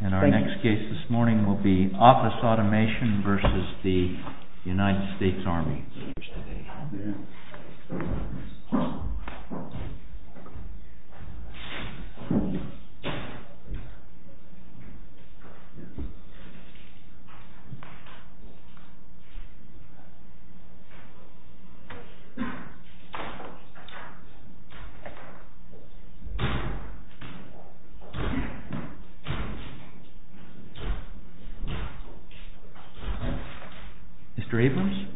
And our next case this morning will be OFFICE AUTOMATION v. THE UNITED STATES ARMY. MR. ABRAMS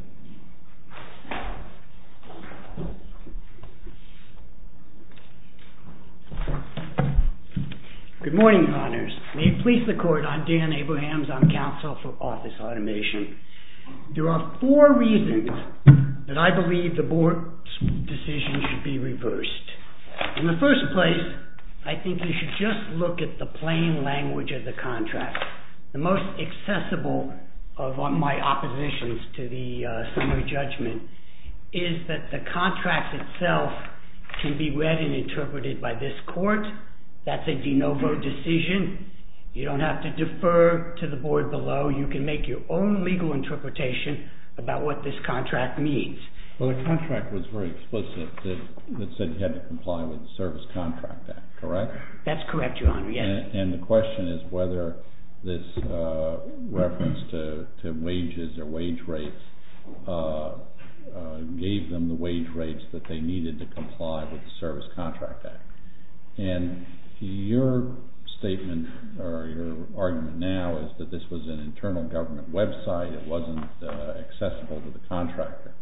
Good morning, your honors. May it please the court, I'm Dan Abrahams. I'm counsel for OFFICE AUTOMATION. There are four reasons that I believe the board's decision should be reversed. In the first place, I think you should just look at the plain language of the contract. The most accessible of my oppositions to the summary judgment is that the contract itself can be read and interpreted by this court. That's a de novo decision. You don't have to defer to the board below. You can make your own legal interpretation about what this contract means. Well, the contract was very explicit that it had to comply with the Service Contract Act, correct? That's correct, your honor, yes. And the question is whether this reference to wages or wage rates gave them the wage rates that they needed to comply with the Service Contract Act. And your argument now is that this was an internal government website. It wasn't accessible to the contractor.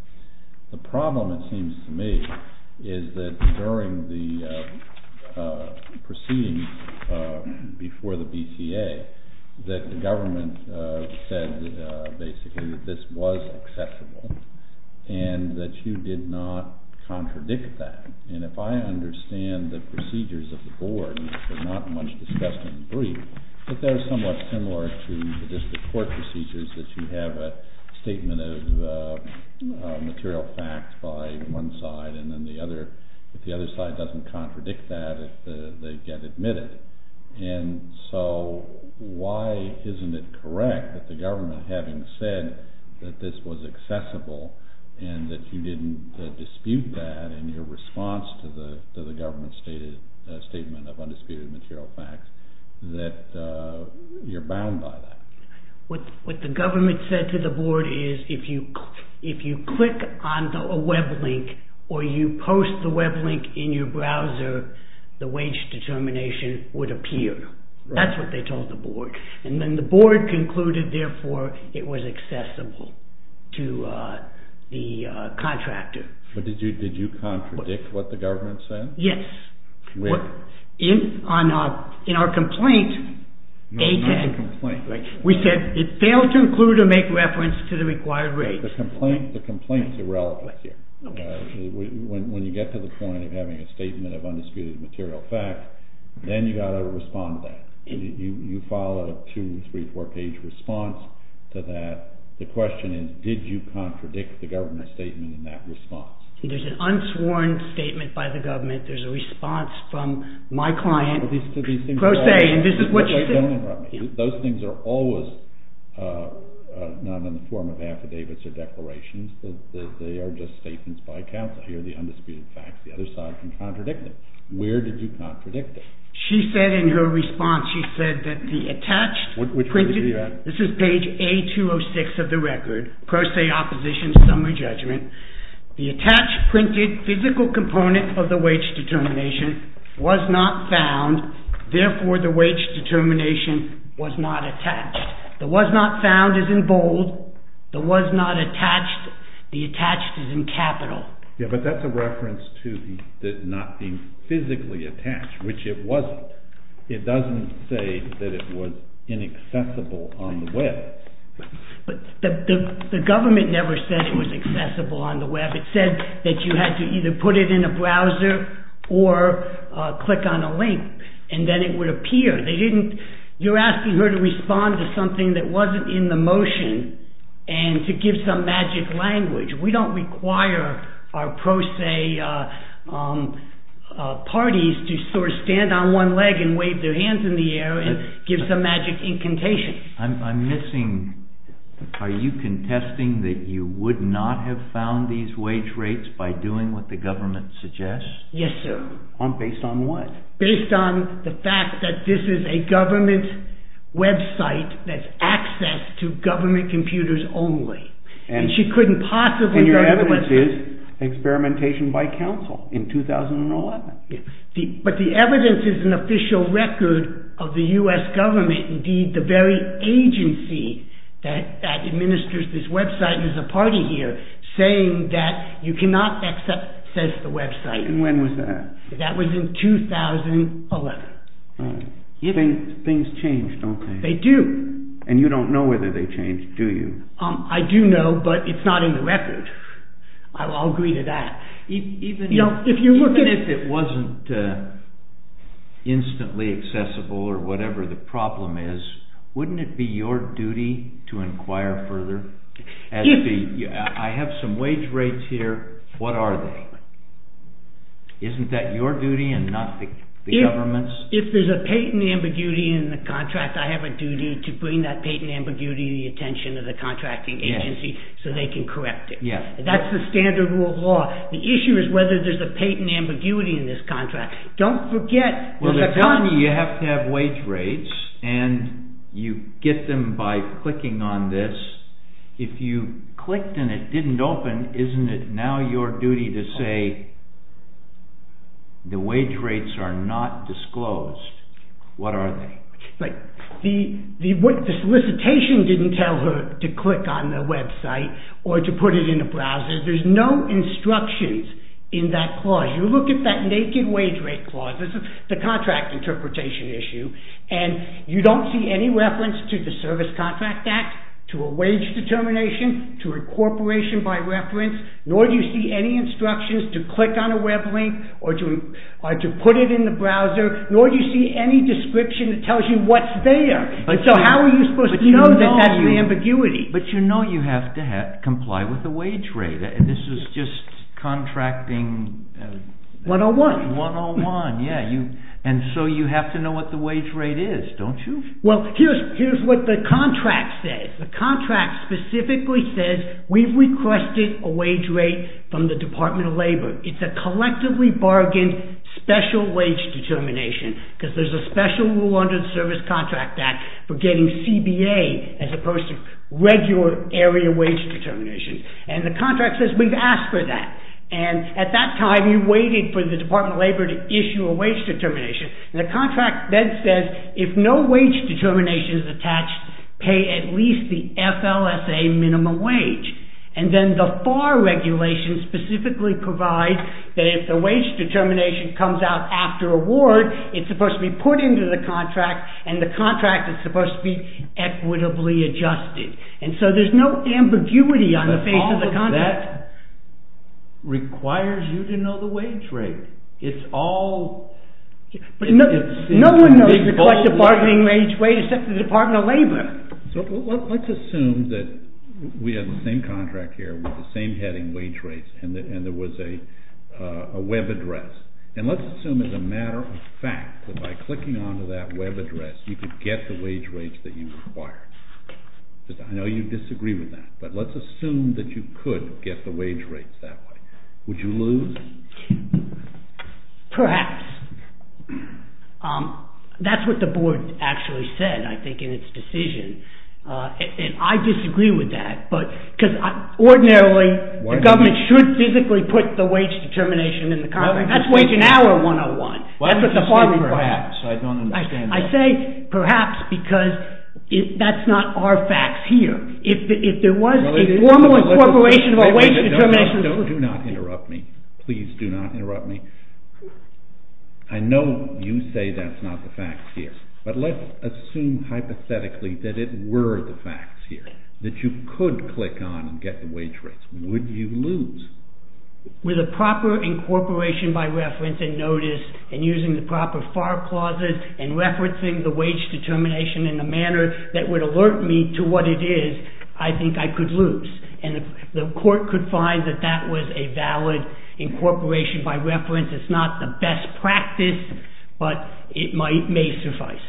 The problem, it seems to me, is that during the proceedings before the BTA, that the government said basically that this was accessible and that you did not contradict that. And if I understand the procedures of the board, and it's not much discussed in the brief, that they're somewhat similar to the district court procedures that you have a statement of material facts by one side and then the other. But the other side doesn't contradict that if they get admitted. And so why isn't it correct that the government, having said that this was accessible and that you didn't dispute that in your response to the government's statement of undisputed material facts, that you're bound by that? What the government said to the board is if you click on a web link or you post the web link in your browser, the wage determination would appear. That's what they told the board. And then the board concluded, therefore, it was accessible to the contractor. But did you contradict what the government said? Yes. With? In our complaint, we said it failed to include or make reference to the required rate. The complaint's irrelevant. When you get to the point of having a statement of undisputed material fact, then you've got to respond to that. You file a two-, three-, four-page response to that. The question is, did you contradict the government's statement in that response? There's an unsworn statement by the government. There's a response from my client, Pro Se, and this is what she said. Don't interrupt me. Those things are always not in the form of affidavits or declarations. They are just statements by counsel. Here are the undisputed facts. The other side can contradict it. Where did you contradict it? She said in her response, she said that the attached printed— Which page are you at? This is page A206 of the record, Pro Se Opposition Summary Judgment. The attached printed physical component of the wage determination was not found. Therefore, the wage determination was not attached. The was not found is in bold. The was not attached. The attached is in capital. Yeah, but that's a reference to the not being physically attached, which it wasn't. It doesn't say that it was inaccessible on the web. The government never said it was accessible on the web. It said that you had to either put it in a browser or click on a link, and then it would appear. You're asking her to respond to something that wasn't in the motion and to give some magic language. We don't require our Pro Se parties to sort of stand on one leg and wave their hands in the air and give some magic incantation. I'm missing—are you contesting that you would not have found these wage rates by doing what the government suggests? Yes, sir. Based on what? Based on the fact that this is a government website that's access to government computers only. And she couldn't possibly— And your evidence is experimentation by counsel in 2011. But the evidence is an official record of the U.S. government. Indeed, the very agency that administers this website is a party here saying that you cannot access the website. And when was that? That was in 2011. Things change, okay. They do. And you don't know whether they change, do you? I do know, but it's not in the record. I'll agree to that. Even if it wasn't instantly accessible or whatever the problem is, wouldn't it be your duty to inquire further? I have some wage rates here. What are they? Isn't that your duty and not the government's? If there's a patent ambiguity in the contract, I have a duty to bring that patent ambiguity to the attention of the contracting agency so they can correct it. That's the standard rule of law. The issue is whether there's a patent ambiguity in this contract. Don't forget— Well, they're telling you you have to have wage rates, and you get them by clicking on this. If you clicked and it didn't open, isn't it now your duty to say the wage rates are not disclosed? What are they? The solicitation didn't tell her to click on the website or to put it in a browser. There's no instructions in that clause. You look at that naked wage rate clause. This is the contract interpretation issue, and you don't see any reference to the Service Contract Act, to a wage determination, to a corporation by reference, nor do you see any instructions to click on a web link or to put it in the browser, nor do you see any description that tells you what's there. So how are you supposed to know that that's the ambiguity? But you know you have to comply with the wage rate. This is just contracting— 101. 101, yeah. And so you have to know what the wage rate is, don't you? Well, here's what the contract says. The contract specifically says we've requested a wage rate from the Department of Labor. It's a collectively bargained special wage determination, because there's a special rule under the Service Contract Act for getting CBA as opposed to regular area wage determinations. And the contract says we've asked for that. And at that time, you waited for the Department of Labor to issue a wage determination. And the contract then says if no wage determination is attached, pay at least the FLSA minimum wage. And then the FAR regulations specifically provide that if the wage determination comes out after award, it's supposed to be put into the contract, and the contract is supposed to be equitably adjusted. And so there's no ambiguity on the face of the contract. But all of that requires you to know the wage rate. But no one knows the cost of bargaining wage rates except the Department of Labor. So let's assume that we have the same contract here with the same heading, wage rates, and there was a web address. And let's assume as a matter of fact that by clicking onto that web address, you could get the wage rates that you required. I know you disagree with that, but let's assume that you could get the wage rates that way. Would you lose? Perhaps. That's what the board actually said, I think, in its decision. And I disagree with that because ordinarily the government should physically put the wage determination in the contract. That's wage and hour 101. Why would you say perhaps? I don't understand that. I say perhaps because that's not our facts here. If there was a formal incorporation of a wage determination... Do not interrupt me. Please do not interrupt me. I know you say that's not the facts here. But let's assume hypothetically that it were the facts here, that you could click on and get the wage rates. Would you lose? With a proper incorporation by reference and notice and using the proper FAR clauses and referencing the wage determination in a manner that would alert me to what it is, I think I could lose. And the court could find that that was a valid incorporation by reference. It's not the best practice, but it may suffice.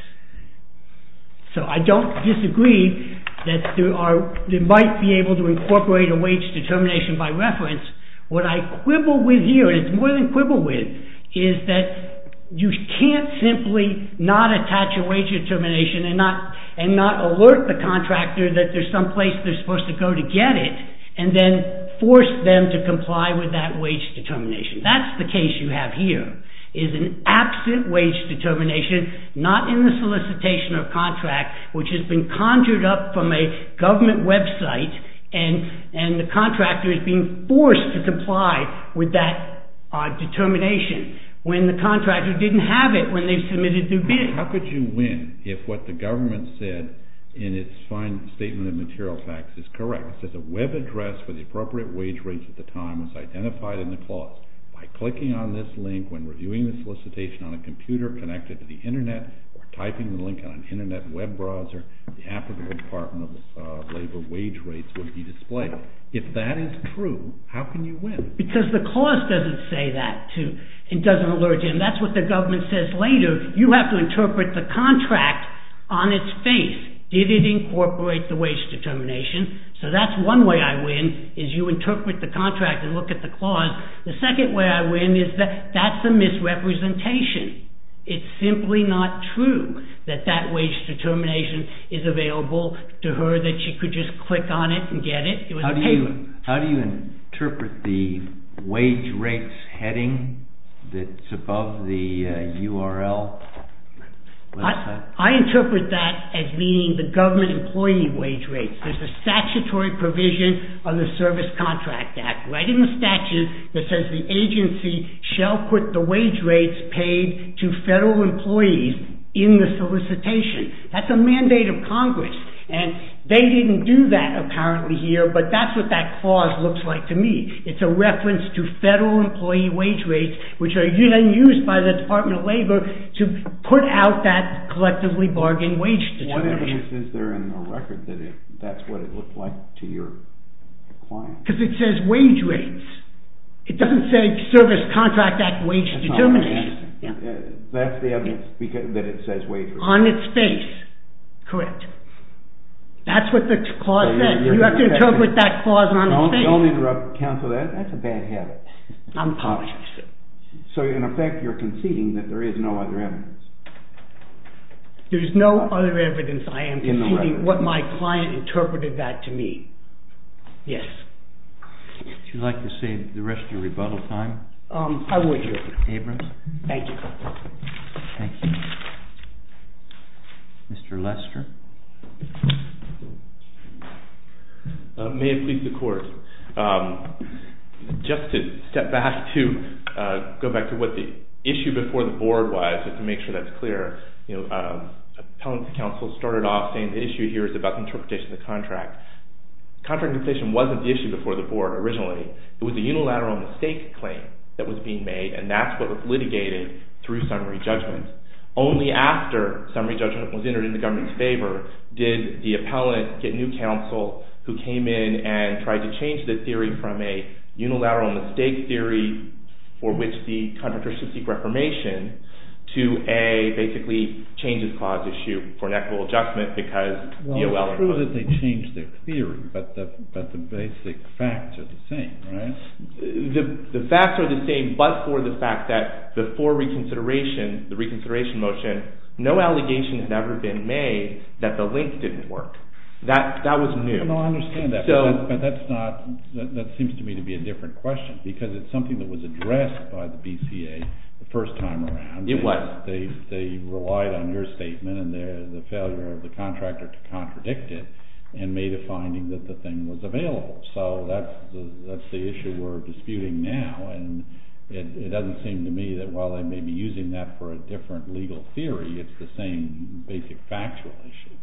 So I don't disagree that they might be able to incorporate a wage determination by reference. What I quibble with here, and it's more than quibble with, is that you can't simply not attach a wage determination and not alert the contractor that there's some place they're supposed to go to get it and then force them to comply with that wage determination. That's the case you have here, is an absent wage determination, not in the solicitation or contract, which has been conjured up from a government website and the contractor is being forced to comply with that determination when the contractor didn't have it when they submitted their bid. How could you win if what the government said in its fine statement of material facts is correct? It says a web address for the appropriate wage rates at the time was identified in the clause. By clicking on this link when reviewing the solicitation on a computer connected to the internet or typing the link on an internet web browser, the app of the Department of Labor wage rates would be displayed. If that is true, how can you win? Because the clause doesn't say that, too. It doesn't alert you. And that's what the government says later. You have to interpret the contract on its face. Did it incorporate the wage determination? So that's one way I win, is you interpret the contract and look at the clause. The second way I win is that that's a misrepresentation. It's simply not true that that wage determination is available to her, that she could just click on it and get it. How do you interpret the wage rates heading that's above the URL? I interpret that as meaning the government employee wage rates. There's a statutory provision on the Service Contract Act, right in the statute, that says the agency shall put the wage rates paid to federal employees in the solicitation. That's a mandate of Congress. And they didn't do that apparently here, but that's what that clause looks like to me. It's a reference to federal employee wage rates, which are then used by the Department of Labor to put out that collectively bargained wage determination. What evidence is there in the record that that's what it looked like to your client? Because it says wage rates. It doesn't say Service Contract Act wage determination. That's the evidence that it says wage rates. On its face, correct. That's what the clause says. You have to interpret that clause on its face. Don't interrupt, counsel, that's a bad habit. I'm apologizing. So in effect you're conceding that there is no other evidence. There is no other evidence I am conceding what my client interpreted that to mean. Yes. Would you like to save the rest of your rebuttal time? I would. Abrams. Thank you. Thank you. Mr. Lester. May it please the Court. Just to step back to go back to what the issue before the board was, just to make sure that's clear, appellant counsel started off saying the issue here is about the interpretation of the contract. Contract interpretation wasn't the issue before the board originally. It was a unilateral mistake claim that was being made, and that's what was litigated through summary judgment. Only after summary judgment was entered in the government's favor did the appellant get new counsel who came in and tried to change the theory from a unilateral mistake theory for which the contractor should seek reformation to a basically changes clause issue for an equitable adjustment because the O.L. Well, it's true that they changed their theory, but the basic facts are the same, right? The facts are the same, but for the fact that before reconsideration, the reconsideration motion, no allegation has ever been made that the link didn't work. That was new. No, I understand that, but that seems to me to be a different question because it's something that was addressed by the BCA the first time around. It was. They relied on your statement and the failure of the contractor to contradict it and made a finding that the thing was available. So that's the issue we're disputing now, and it doesn't seem to me that while they may be using that for a different legal theory, it's the same basic factual issue.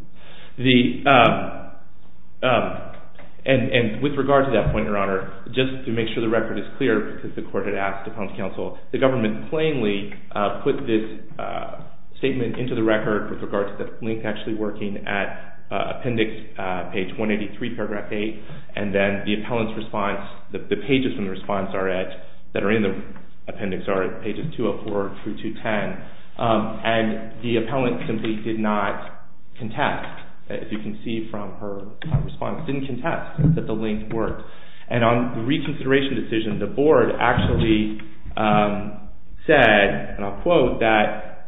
And with regard to that point, Your Honor, just to make sure the record is clear because the court had asked the appellant's counsel, the government plainly put this statement into the record with regard to the link actually working at appendix page 183, paragraph 8, and then the appellant's response, the pages from the response that are in the appendix are pages 204 through 210, and the appellant simply did not contest as you can see from her response, didn't contest that the link worked. And on the reconsideration decision, the board actually said, and I'll quote, that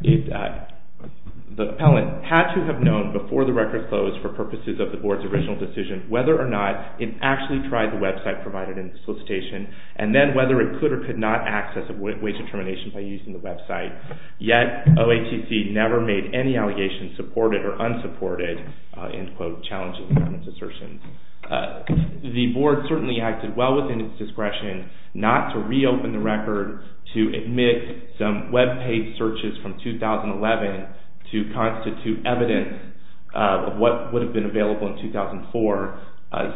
the appellant had to have known before the record closed for purposes of the board's original decision whether or not it actually tried the website provided in the solicitation and then whether it could or could not access a wage determination by using the website. Yet, OATC never made any allegations supported or unsupported, in quote, challenging the government's assertion. The board certainly acted well within its discretion not to reopen the record to admit some webpage searches from 2011 to constitute evidence of what would have been available in 2004.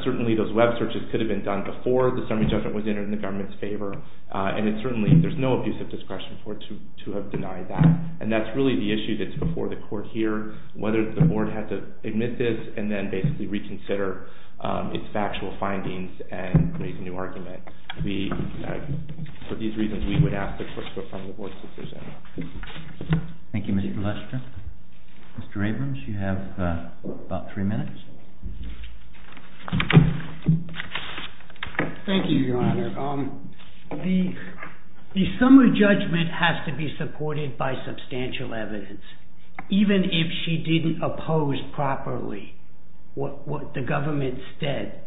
Certainly those web searches could have been done before the summary judgment was entered in the government's favor, and certainly there's no abuse of discretion to have denied that. And that's really the issue that's before the court here, whether the board had to admit this and then basically reconsider its factual findings and make a new argument. For these reasons, we would ask the court to put forward the board's decision. Thank you, Mr. Lester. Mr. Abrams, you have about three minutes. Thank you, Your Honor. The summary judgment has to be supported by substantial evidence. Even if she didn't oppose properly what the government said,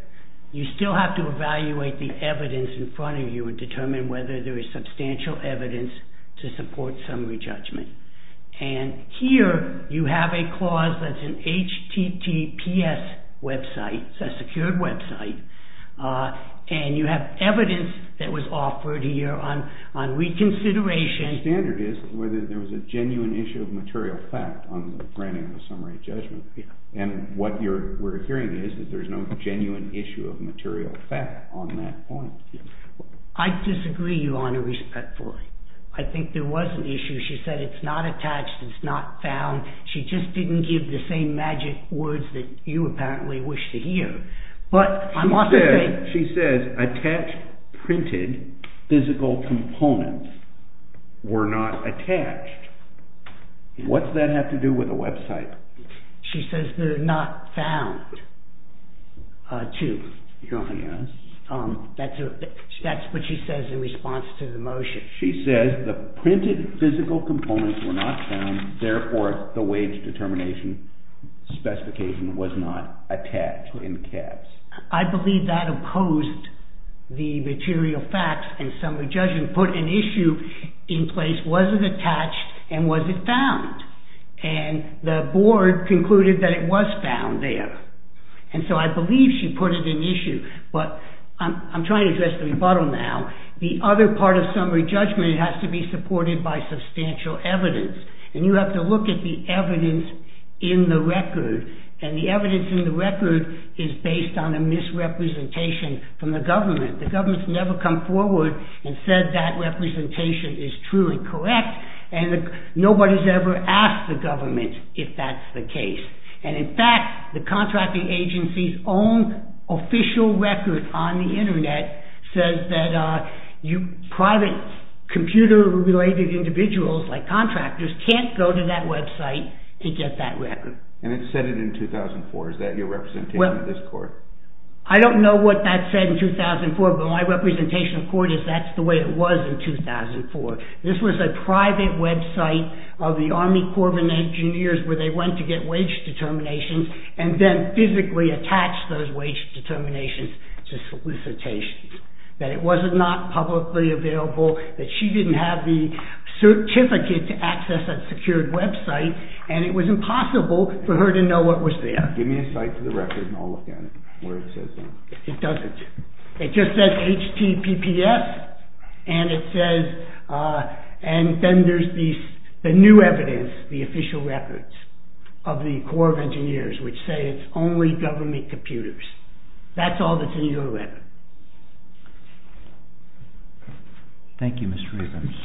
you still have to evaluate the evidence in front of you and determine whether there is substantial evidence to support summary judgment. And here you have a clause that's an HTTPS website. It's a secured website. And you have evidence that was offered here on reconsideration. The standard is whether there was a genuine issue of material fact on the granting of the summary judgment. And what we're hearing is that there's no genuine issue of material fact on that point. I disagree, Your Honor, respectfully. I think there was an issue. She said it's not attached, it's not found. She just didn't give the same magic words that you apparently wish to hear. She says attached printed physical components were not attached. What does that have to do with the website? She says they're not found, too. Your Honor, yes. That's what she says in response to the motion. She says the printed physical components were not found, therefore the wage determination specification was not attached in caps. I believe that opposed the material facts and summary judgment put an issue in place. Was it attached and was it found? And the board concluded that it was found there. And so I believe she put it in issue. But I'm trying to address the rebuttal now. The other part of summary judgment has to be supported by substantial evidence. And you have to look at the evidence in the record. And the evidence in the record is based on a misrepresentation from the government. The government's never come forward and said that representation is truly correct. And nobody's ever asked the government if that's the case. And in fact, the contracting agency's own official record on the Internet says that private computer-related individuals like contractors can't go to that website to get that record. And it said it in 2004. Is that your representation of this court? I don't know what that said in 2004, but my representation of court is that's the way it was in 2004. This was a private website of the Army Corps of Engineers where they went to get wage determinations and then physically attached those wage determinations to solicitations. That it was not publicly available, that she didn't have the certificate to access that secured website, and it was impossible for her to know what was there. Give me a cite for the record and I'll look at it, where it says that. It doesn't. It just says HTPPS. And then there's the new evidence, the official records, of the Corps of Engineers, which say it's only government computers. That's all that's in your record. Thank you, Mr. Reubens.